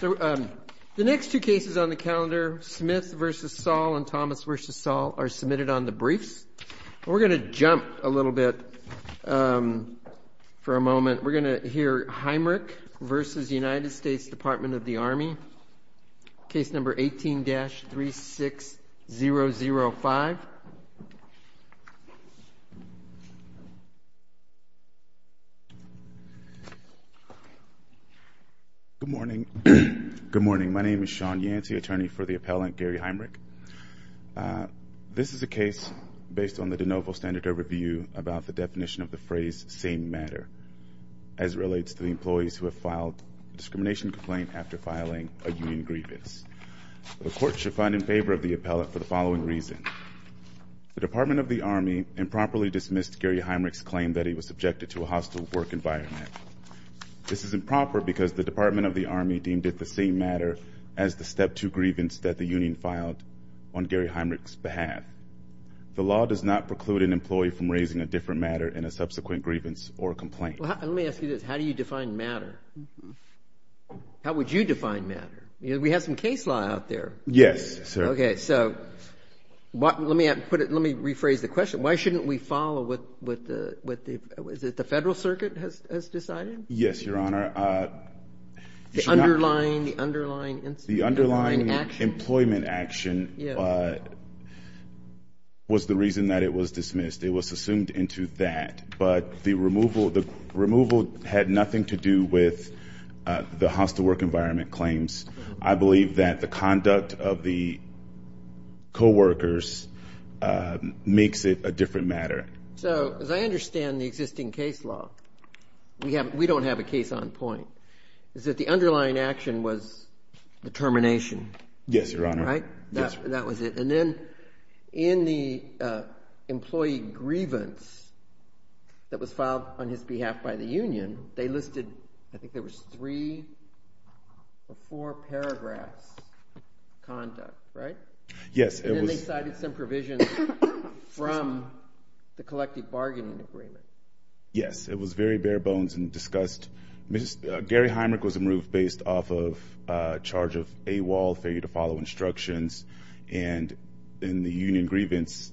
The next two cases on the calendar, Smith v. Sahl and Thomas v. Sahl, are submitted on the briefs. We're going to jump a little bit for a moment, we're going to hear Heimrich v. U.S. Department of the Army, case number 18-36005. Good morning, my name is Sean Yancey, attorney for the appellant Garry Heimrich. This is a case based on the de novo standard overview about the definition of the phrase same matter, as it relates to the employees who have filed a discrimination complaint after filing a union grievance. The court should find in favor of the appellant for the following reason. The Department of the Army improperly dismissed Garry Heimrich's claim that he was subjected to a hostile work environment. This is improper because the Department of the Army deemed it the same matter as the step two grievance that the union filed on Garry Heimrich's behalf. The law does not preclude an employee from raising a different matter in a subsequent grievance or complaint. Well, let me ask you this, how do you define matter? How would you define matter? We have some case law out there. Yes, sir. Okay, so let me rephrase the question, why shouldn't we follow what the, is it the Federal Circuit has decided? Yes, Your Honor. The underlying incident. The underlying action. Employment action was the reason that it was dismissed. It was assumed into that, but the removal had nothing to do with the hostile work environment claims. I believe that the conduct of the co-workers makes it a different matter. So as I understand the existing case law, we don't have a case on point, is that the Yes, Your Honor. Right? That was it. And then in the employee grievance that was filed on his behalf by the union, they listed, I think there was three or four paragraphs of conduct, right? Yes, it was. And then they cited some provisions from the collective bargaining agreement. Yes, it was very bare bones and discussed. Gary Heimrich was removed based off of a charge of AWOL, failure to follow instructions. And in the union grievance,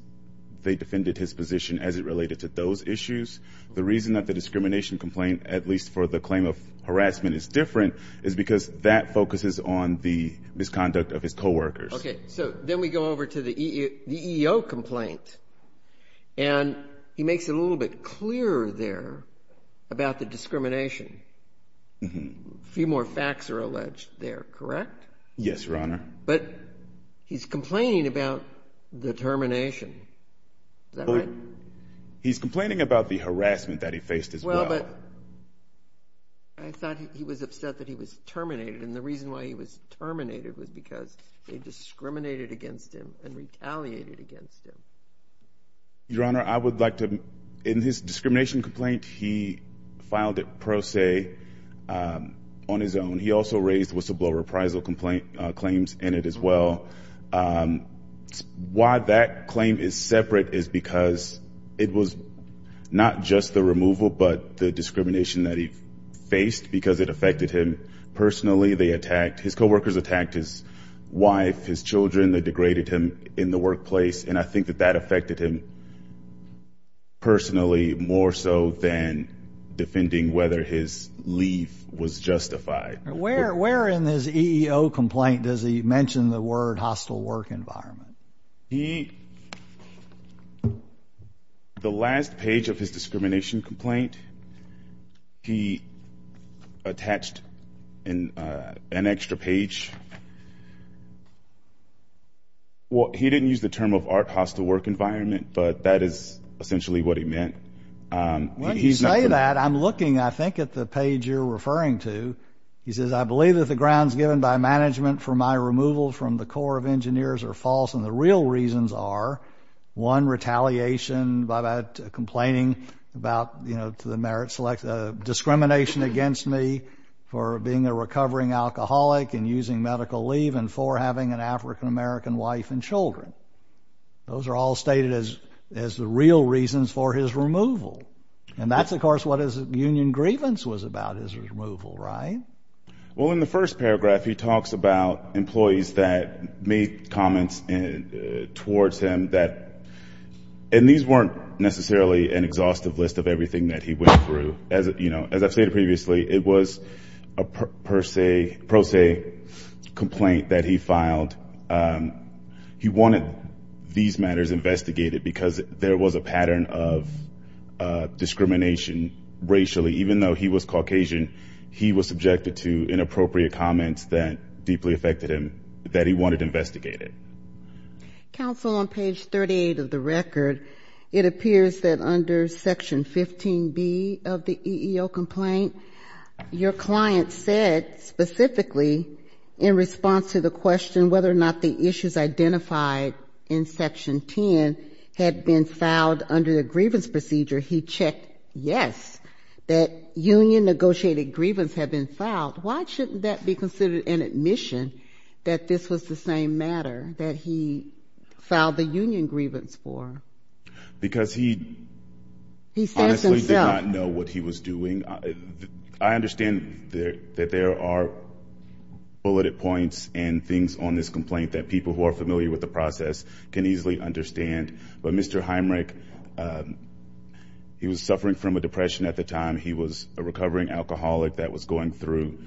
they defended his position as it related to those issues. The reason that the discrimination complaint, at least for the claim of harassment, is different is because that focuses on the misconduct of his co-workers. Okay, so then we go over to the EEO complaint. And he makes it a little bit clearer there about the discrimination. A few more facts are alleged there, correct? Yes, Your Honor. But he's complaining about the termination, is that right? He's complaining about the harassment that he faced as well. Well, but I thought he was upset that he was terminated. And the reason why he was terminated was because they discriminated against him and retaliated against him. Your Honor, I would like to—in his discrimination complaint, he filed it pro se on his own. He also raised whistleblower appraisal claims in it as well. Why that claim is separate is because it was not just the removal but the discrimination that he faced because it affected him personally. They attacked—his co-workers attacked his wife, his children. They degraded him in the workplace. And I think that that affected him personally more so than defending whether his leave was justified. Where in his EEO complaint does he mention the word hostile work environment? He—the last page of his discrimination complaint, he attached an extra page. He didn't use the term of art hostile work environment, but that is essentially what he meant. When you say that, I'm looking, I think, at the page you're referring to. He says, I believe that the grounds given by management for my removal from the Corps of Engineers are false, and the real reasons are, one, retaliation by that complaining about, you know, to the merit selection—discrimination against me for being a recovering alcoholic and using medical leave, and four, having an African-American wife and children. Those are all stated as the real reasons for his removal. And that's, of course, what his union grievance was about, his removal, right? Well, in the first paragraph, he talks about employees that made comments towards him that— and these weren't necessarily an exhaustive list of everything that he went through. As I've stated previously, it was a per se, pro se complaint that he filed. He wanted these matters investigated because there was a pattern of discrimination racially. Even though he was Caucasian, he was subjected to inappropriate comments that deeply affected him that he wanted investigated. Counsel, on page 38 of the record, it appears that under section 15B of the EEO complaint, your client said specifically in response to the question whether or not the issues identified in section 10 had been filed under the grievance procedure, he checked yes, that union-negotiated grievance had been filed. Why shouldn't that be considered an admission that this was the same matter that he filed the union grievance for? Because he— He said it himself. Honestly, he did not know what he was doing. I understand that there are bulleted points and things on this complaint that people who are familiar with the process can easily understand. But Mr. Heimrich, he was suffering from a depression at the time. He was a recovering alcoholic that was going through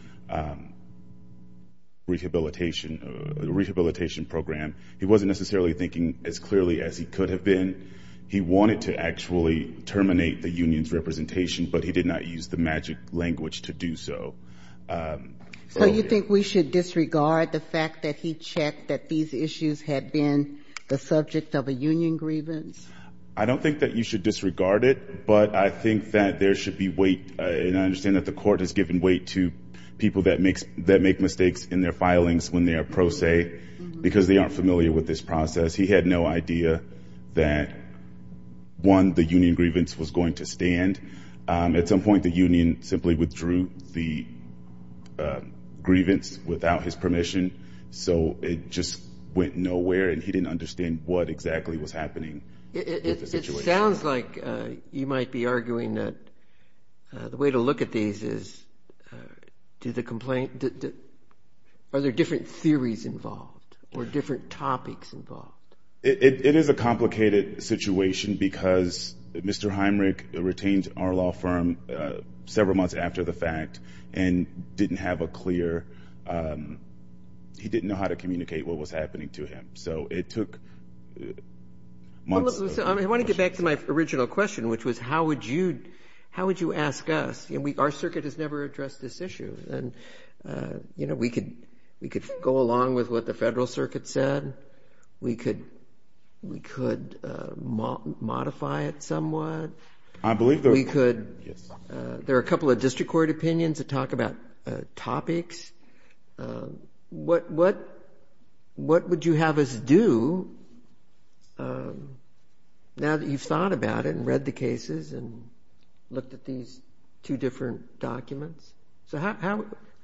rehabilitation program. He wasn't necessarily thinking as clearly as he could have been. He wanted to actually terminate the union's representation, but he did not use the magic language to do so. So you think we should disregard the fact that he checked that these issues had been the subject of a union grievance? I don't think that you should disregard it, but I think that there should be weight, and I understand that the court has given weight to people that make mistakes in their filings when they are pro se because they aren't familiar with this process. He had no idea that, one, the union grievance was going to stand. At some point, the union simply withdrew the grievance without his permission. So it just went nowhere, and he didn't understand what exactly was happening with the situation. It sounds like you might be arguing that the way to look at these is, are there different theories involved or different topics involved? It is a complicated situation because Mr. Heimrich retained our law firm several months after the fact and didn't have a clear, he didn't know how to communicate what was happening to him. So it took months. I want to get back to my original question, which was how would you ask us? Our circuit has never addressed this issue. We could go along with what the federal circuit said. We could modify it somewhat. There are a couple of district court opinions that talk about topics. What would you have us do now that you've thought about it and read the cases and looked at these two different documents? So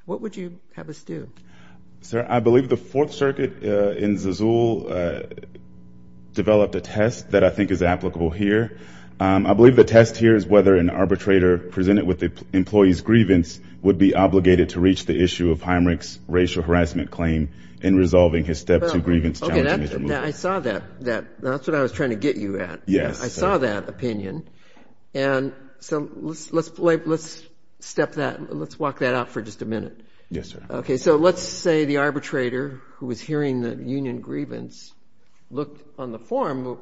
what would you have us do? Sir, I believe the Fourth Circuit in Zizoul developed a test that I think is applicable here. I believe the test here is whether an arbitrator presented with the employee's grievance would be obligated to reach the issue of Heimrich's racial harassment claim in resolving his Step 2 grievance challenge. Okay, I saw that. That's what I was trying to get you at. Yes. I saw that opinion. And so let's step that, let's walk that out for just a minute. Yes, sir. Okay, so let's say the arbitrator who was hearing the union grievance looked on the form.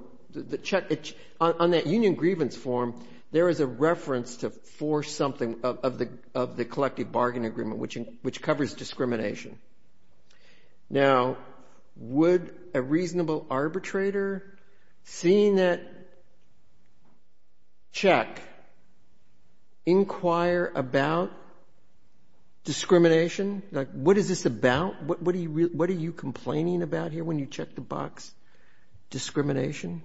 On that union grievance form, there is a reference to force something of the collective bargain agreement, which covers discrimination. Now, would a reasonable arbitrator, seeing that check, inquire about discrimination? Like, what is this about? What are you complaining about here when you check the box? Discrimination?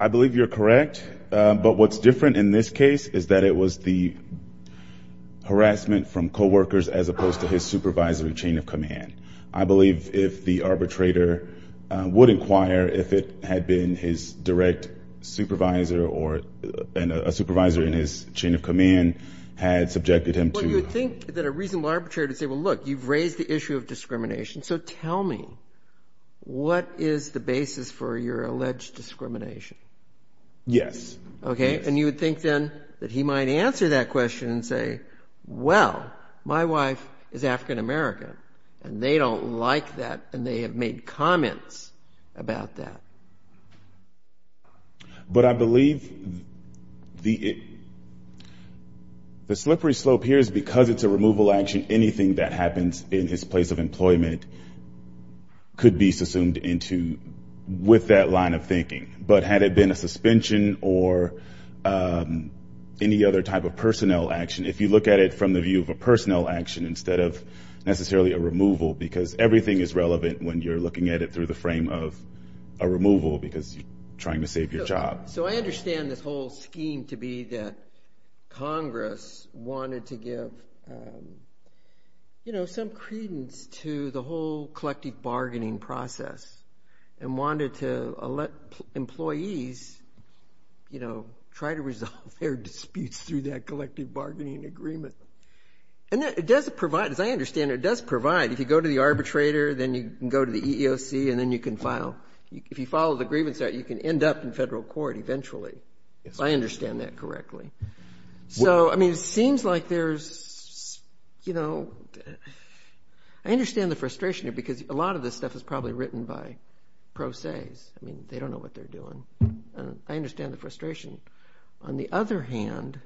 I believe you're correct, but what's different in this case is that it was the harassment from coworkers as opposed to his supervisor in chain of command. I believe if the arbitrator would inquire if it had been his direct supervisor or a supervisor in his chain of command had subjected him to ---- Well, you would think that a reasonable arbitrator would say, well, look, you've raised the issue of discrimination, so tell me, what is the basis for your alleged discrimination? Yes. Okay, and you would think then that he might answer that question and say, well, my wife is African American, and they don't like that, and they have made comments about that. But I believe the slippery slope here is because it's a removal action, anything that happens in his place of employment could be subsumed into with that line of thinking. But had it been a suspension or any other type of personnel action, if you look at it from the view of a personnel action instead of necessarily a removal, because everything is relevant when you're looking at it through the frame of a removal because you're trying to save your job. So I understand this whole scheme to be that Congress wanted to give, you know, some credence to the whole collective bargaining process and wanted to let employees, you know, try to resolve their disputes through that collective bargaining agreement. And it does provide, as I understand it, it does provide, if you go to the arbitrator, then you can go to the EEOC, and then you can file. If you follow the grievance, you can end up in federal court eventually, if I understand that correctly. So, I mean, it seems like there's, you know, I understand the frustration here because a lot of this stuff is probably written by pro ses. I mean, they don't know what they're doing. I understand the frustration. On the other hand,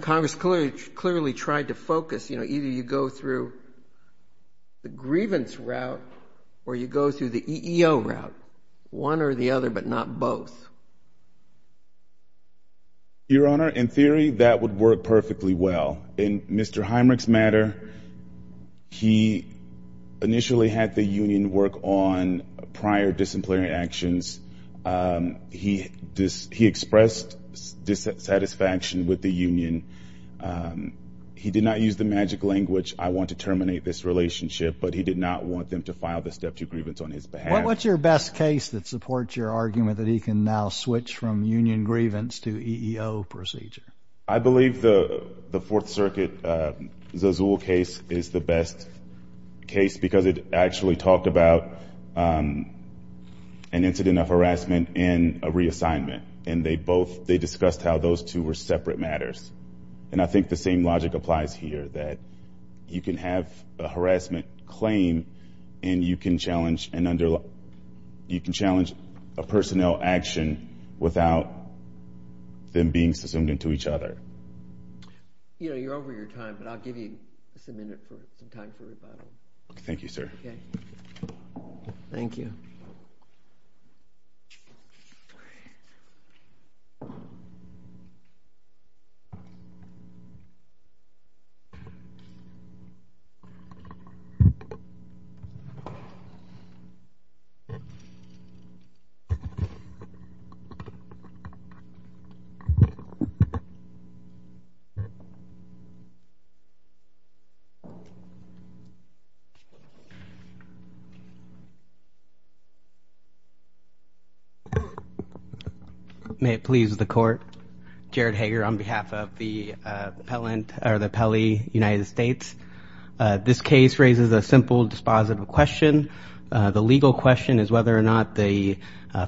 Congress clearly tried to focus, you know, either you go through the grievance route or you go through the EEO route, one or the other, but not both. Your Honor, in theory, that would work perfectly well. In Mr. Heimerich's matter, he initially had the union work on prior disemployment actions. He expressed dissatisfaction with the union. He did not use the magic language, I want to terminate this relationship, but he did not want them to file the step two grievance on his behalf. What's your best case that supports your argument that he can now switch from union grievance to EEO procedure? I believe the Fourth Circuit Zazuul case is the best case because it actually talked about an incident of harassment and a reassignment, and they discussed how those two were separate matters. And I think the same logic applies here, that you can have a harassment claim and you can challenge a personnel action without them being subsumed into each other. You know, you're over your time, but I'll give you just a minute for some time for rebuttal. Thank you, sir. Okay. Thank you. Thank you. May it please the court. Jared Hager on behalf of the Pelley United States. This case raises a simple dispositive question. The legal question is whether or not the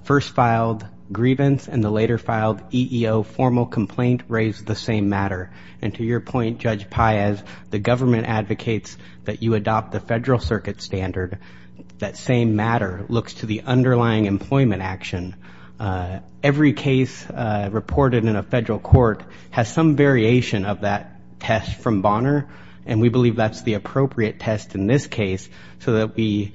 first filed grievance and the later filed EEO formal complaint raise the same matter. And to your point, Judge Paez, the government advocates that you adopt the federal circuit standard. That same matter looks to the underlying employment action. Every case reported in a federal court has some variation of that test from Bonner, and we believe that's the appropriate test in this case so that we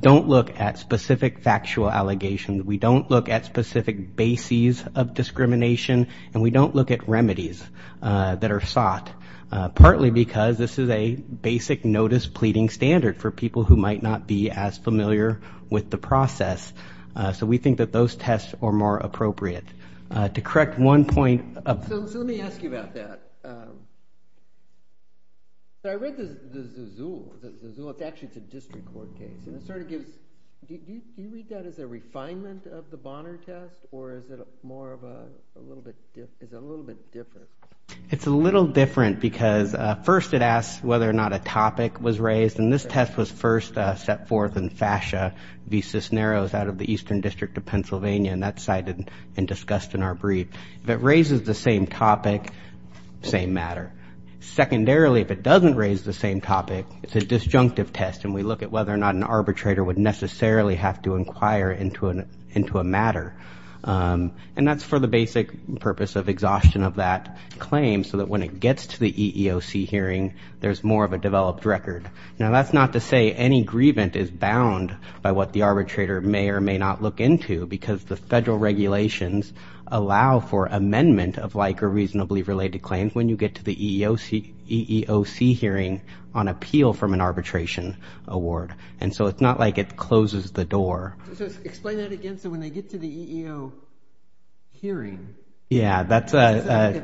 don't look at specific factual allegations. We don't look at specific bases of discrimination, and we don't look at remedies that are sought, partly because this is a basic notice pleading standard for people who might not be as familiar with the process. So we think that those tests are more appropriate. To correct one point. So let me ask you about that. So I read the Zul. Actually, it's a district court case. Do you read that as a refinement of the Bonner test, or is it a little bit different? It's a little different because first it asks whether or not a topic was raised, and this test was first set forth in FASHA v. Cisneros out of the Eastern District of Pennsylvania, and that's cited and discussed in our brief. If it raises the same topic, same matter. Secondarily, if it doesn't raise the same topic, it's a disjunctive test, and we look at whether or not an arbitrator would necessarily have to inquire into a matter. And that's for the basic purpose of exhaustion of that claim so that when it gets to the EEOC hearing, there's more of a developed record. Now, that's not to say any grievance is bound by what the arbitrator may or may not look into because the federal regulations allow for amendment of like or reasonably related claims when you get to the EEOC hearing on appeal from an arbitration award. And so it's not like it closes the door. Explain that again. So when they get to the EEO hearing. Yeah. I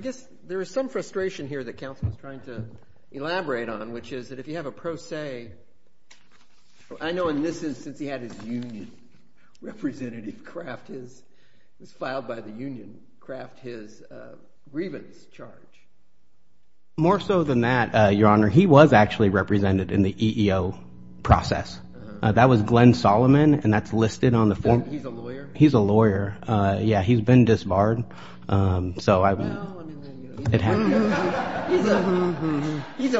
guess there is some frustration here that counsel is trying to elaborate on, which is that if you have a pro se, I know in this instance he had his union representative craft his, filed by the union, craft his grievance charge. More so than that, Your Honor, he was actually represented in the EEO process. That was Glenn Solomon, and that's listed on the form. He's a lawyer? He's a lawyer. Yeah, he's been disbarred. He's a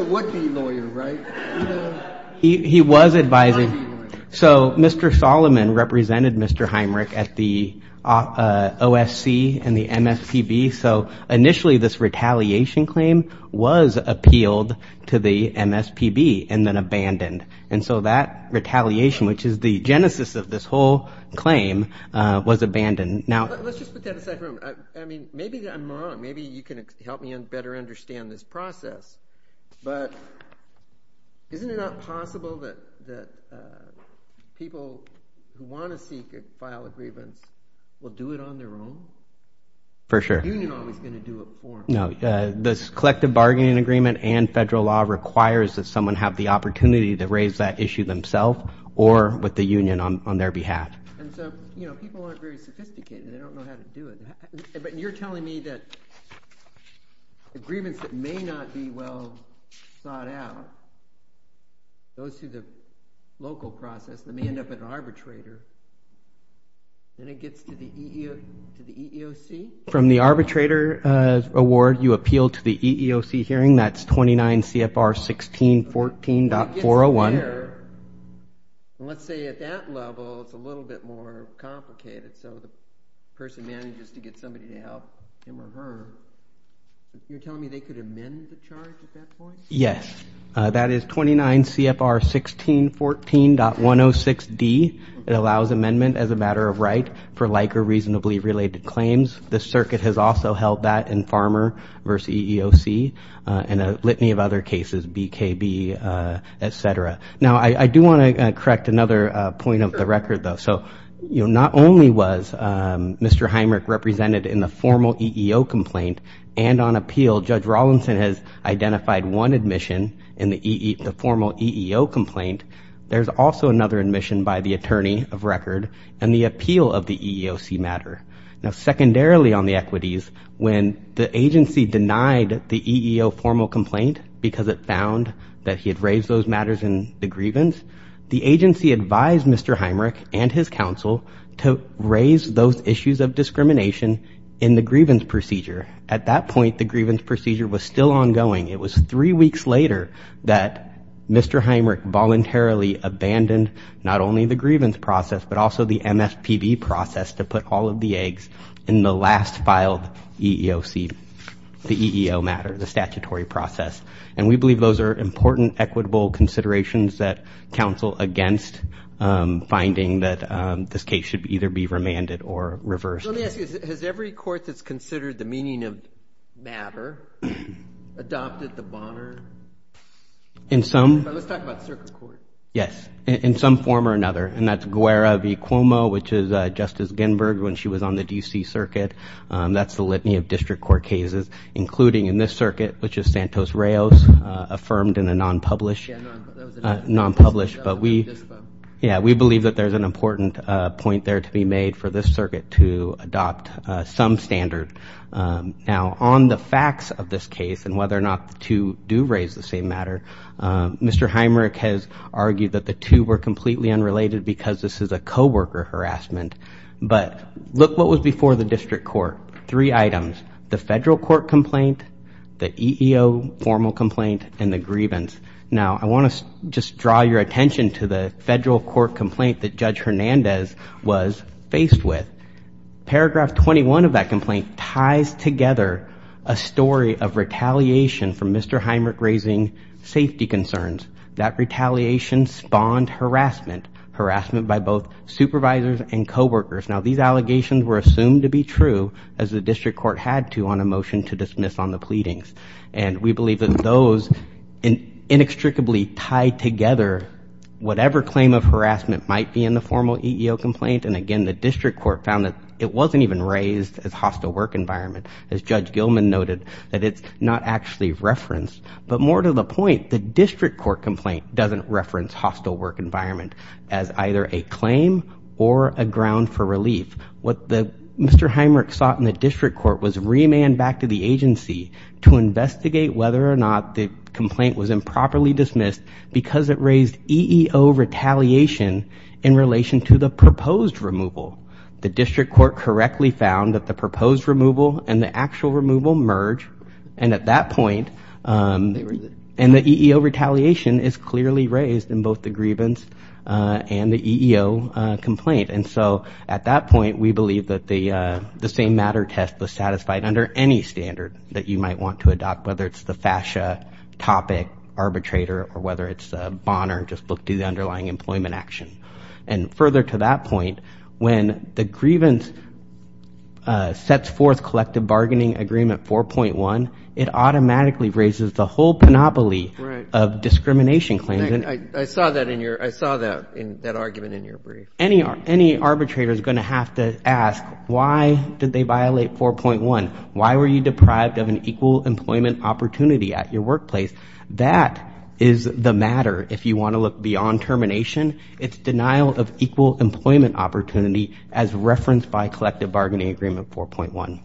would-be lawyer, right? He was advising. So Mr. Solomon represented Mr. Heimrich at the OSC and the MSPB. So initially this retaliation claim was appealed to the MSPB and then abandoned. And so that retaliation, which is the genesis of this whole claim, was abandoned. Let's just put that aside for a moment. I mean, maybe I'm wrong. Maybe you can help me better understand this process. But isn't it not possible that people who want to seek or file a grievance will do it on their own? For sure. The union always is going to do it for them. No. This collective bargaining agreement and federal law requires that someone have the opportunity to raise that issue themselves or with the union on their behalf. And so people aren't very sophisticated. They don't know how to do it. But you're telling me that grievance that may not be well thought out goes through the local process and may end up at an arbitrator, then it gets to the EEOC? From the arbitrator award, you appeal to the EEOC hearing. That's 29 CFR 1614.401. Let's say at that level it's a little bit more complicated. So the person manages to get somebody to help him or her. You're telling me they could amend the charge at that point? Yes. That is 29 CFR 1614.106D. It allows amendment as a matter of right for like or reasonably related claims. The circuit has also held that in Farmer versus EEOC and a litany of other cases, BKB, et cetera. Now, I do want to correct another point of the record, though. So not only was Mr. Heimrich represented in the formal EEO complaint and on appeal, Judge Rawlinson has identified one admission in the formal EEO complaint. There's also another admission by the attorney of record and the appeal of the EEOC matter. Now, secondarily on the equities, when the agency denied the EEO formal complaint because it found that he had raised those matters in the grievance, the agency advised Mr. Heimrich and his counsel to raise those issues of discrimination in the grievance procedure. At that point, the grievance procedure was still ongoing. It was three weeks later that Mr. Heimrich voluntarily abandoned not only the grievance process but also the MSPB process to put all of the eggs in the last filed EEOC, the EEO matter, the statutory process. And we believe those are important equitable considerations that counsel against finding that this case should either be remanded or reversed. Let me ask you, has every court that's considered the meaning of matter adopted the Bonner? In some. Let's talk about circuit court. Yes. In some form or another. And that's Guerra v. Cuomo, which is Justice Ginberg when she was on the D.C. Circuit. That's the litany of district court cases, including in this circuit, which is Santos-Rios, affirmed in a non-published. But we believe that there's an important point there to be made for this circuit to adopt some standard. Now, on the facts of this case and whether or not the two do raise the same matter, Mr. Heimrich has argued that the two were completely unrelated because this is a coworker harassment. But look what was before the district court. Three items, the federal court complaint, the EEO formal complaint, and the grievance. Now, I want to just draw your attention to the federal court complaint that Judge Hernandez was faced with. Paragraph 21 of that complaint ties together a story of retaliation from Mr. Heimrich raising safety concerns. That retaliation spawned harassment, harassment by both supervisors and coworkers. Now, these allegations were assumed to be true as the district court had to on a motion to dismiss on the pleadings. And we believe that those inextricably tied together whatever claim of harassment might be in the formal EEO complaint. And again, the district court found that it wasn't even raised as hostile work environment. As Judge Gilman noted, that it's not actually referenced. But more to the point, the district court complaint doesn't reference hostile work environment as either a claim or a ground for relief. What Mr. Heimrich sought in the district court was remand back to the agency to investigate whether or not the complaint was improperly dismissed because it raised EEO retaliation in relation to the proposed removal. The district court correctly found that the proposed removal and the actual removal merge. And at that point, and the EEO retaliation is clearly raised in both the grievance and the EEO complaint. And so at that point, we believe that the same matter test was satisfied under any standard that you might want to adopt, whether it's the FASCHA topic arbitrator or whether it's Bonner, just look to the underlying employment action. And further to that point, when the grievance sets forth collective bargaining agreement 4.1, it automatically raises the whole panoply of discrimination claims. I saw that in your I saw that in that argument in your brief. Any arbitrator is going to have to ask, why did they violate 4.1? Why were you deprived of an equal employment opportunity at your workplace? That is the matter. If you want to look beyond termination, it's denial of equal employment opportunity as referenced by collective bargaining agreement 4.1.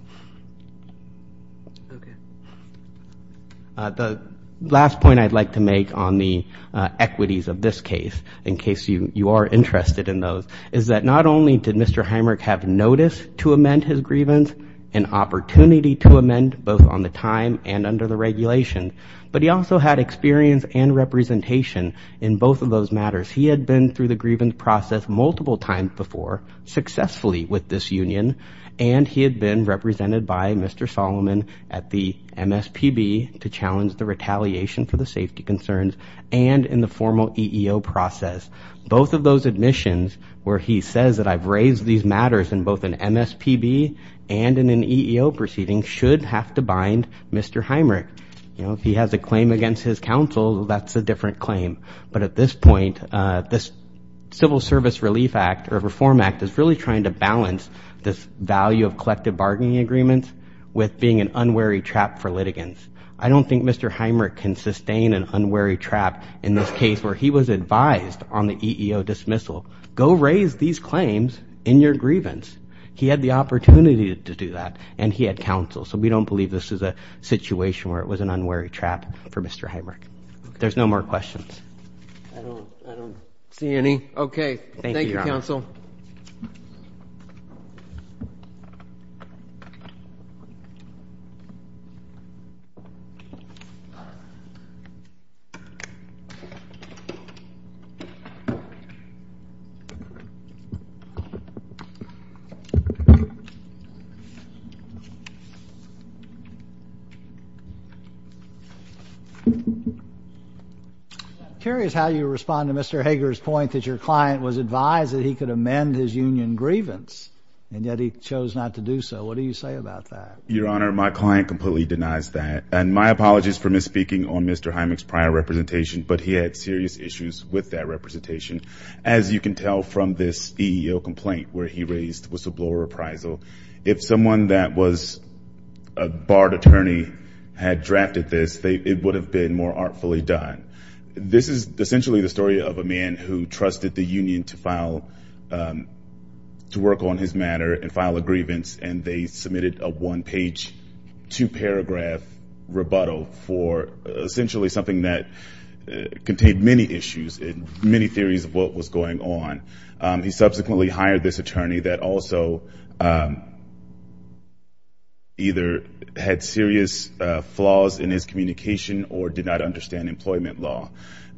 The last point I'd like to make on the equities of this case, in case you are interested in those, is that not only did Mr. Heimerich have notice to amend his grievance, an opportunity to amend both on the time and under the regulation, but he also had experience and representation in both of those matters. He had been through the grievance process multiple times before successfully with this union, and he had been represented by Mr. Solomon at the MSPB to challenge the retaliation for the safety concerns and in the formal EEO process. Both of those admissions where he says that I've raised these matters in both an MSPB and in an EEO proceeding should have to bind Mr. Heimerich. You know, if he has a claim against his counsel, that's a different claim. But at this point, this Civil Service Relief Act or Reform Act is really trying to balance this value of collective bargaining agreements with being an unwary trap for litigants. I don't think Mr. Heimerich can sustain an unwary trap in this case where he was advised on the EEO dismissal. Go raise these claims in your grievance. He had the opportunity to do that, and he had counsel. So we don't believe this is a situation where it was an unwary trap for Mr. Heimerich. There's no more questions. Okay. Thank you, counsel. Thank you. Thank you. I'm curious how you respond to Mr. Hager's point that your client was advised that he could amend his union grievance, and yet he chose not to do so. What do you say about that? Your Honor, my client completely denies that. And my apologies for misspeaking on Mr. Heimerich's prior representation, but he had serious issues with that representation. As you can tell from this EEO complaint where he raised whistleblower appraisal, if someone that was a barred attorney had drafted this, it would have been more artfully done. This is essentially the story of a man who trusted the union to work on his matter and file a grievance, and they submitted a one-page, two-paragraph rebuttal for essentially something that contained many issues and many theories of what was going on. He subsequently hired this attorney that also either had serious flaws in his communication or did not understand employment law.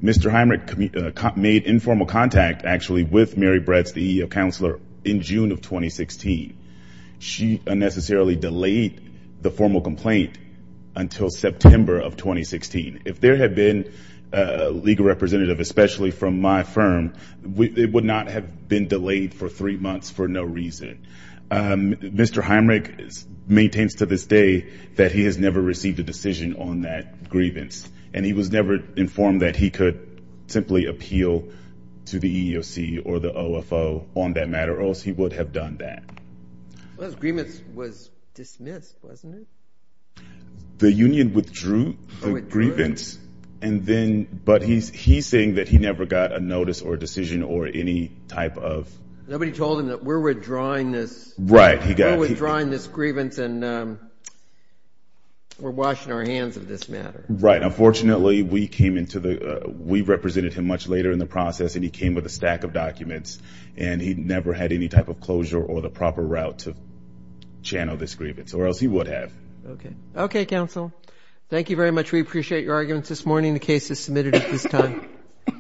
Mr. Heimerich made informal contact, actually, with Mary Bretz, the EEO counselor, in June of 2016. She unnecessarily delayed the formal complaint until September of 2016. If there had been a legal representative, especially from my firm, it would not have been delayed for three months for no reason. Mr. Heimerich maintains to this day that he has never received a decision on that grievance, and he was never informed that he could simply appeal to the EEOC or the OFO on that matter, or else he would have done that. Well, his grievance was dismissed, wasn't it? The union withdrew the grievance, but he's saying that he never got a notice or a decision or any type of... Nobody told him that we're withdrawing this grievance and we're washing our hands of this matter. Right. Unfortunately, we represented him much later in the process, and he came with a stack of documents, and he never had any type of closure or the proper route to channel this grievance, or else he would have. Okay. Okay, counsel. Thank you very much. We appreciate your arguments this morning. The case is submitted at this time.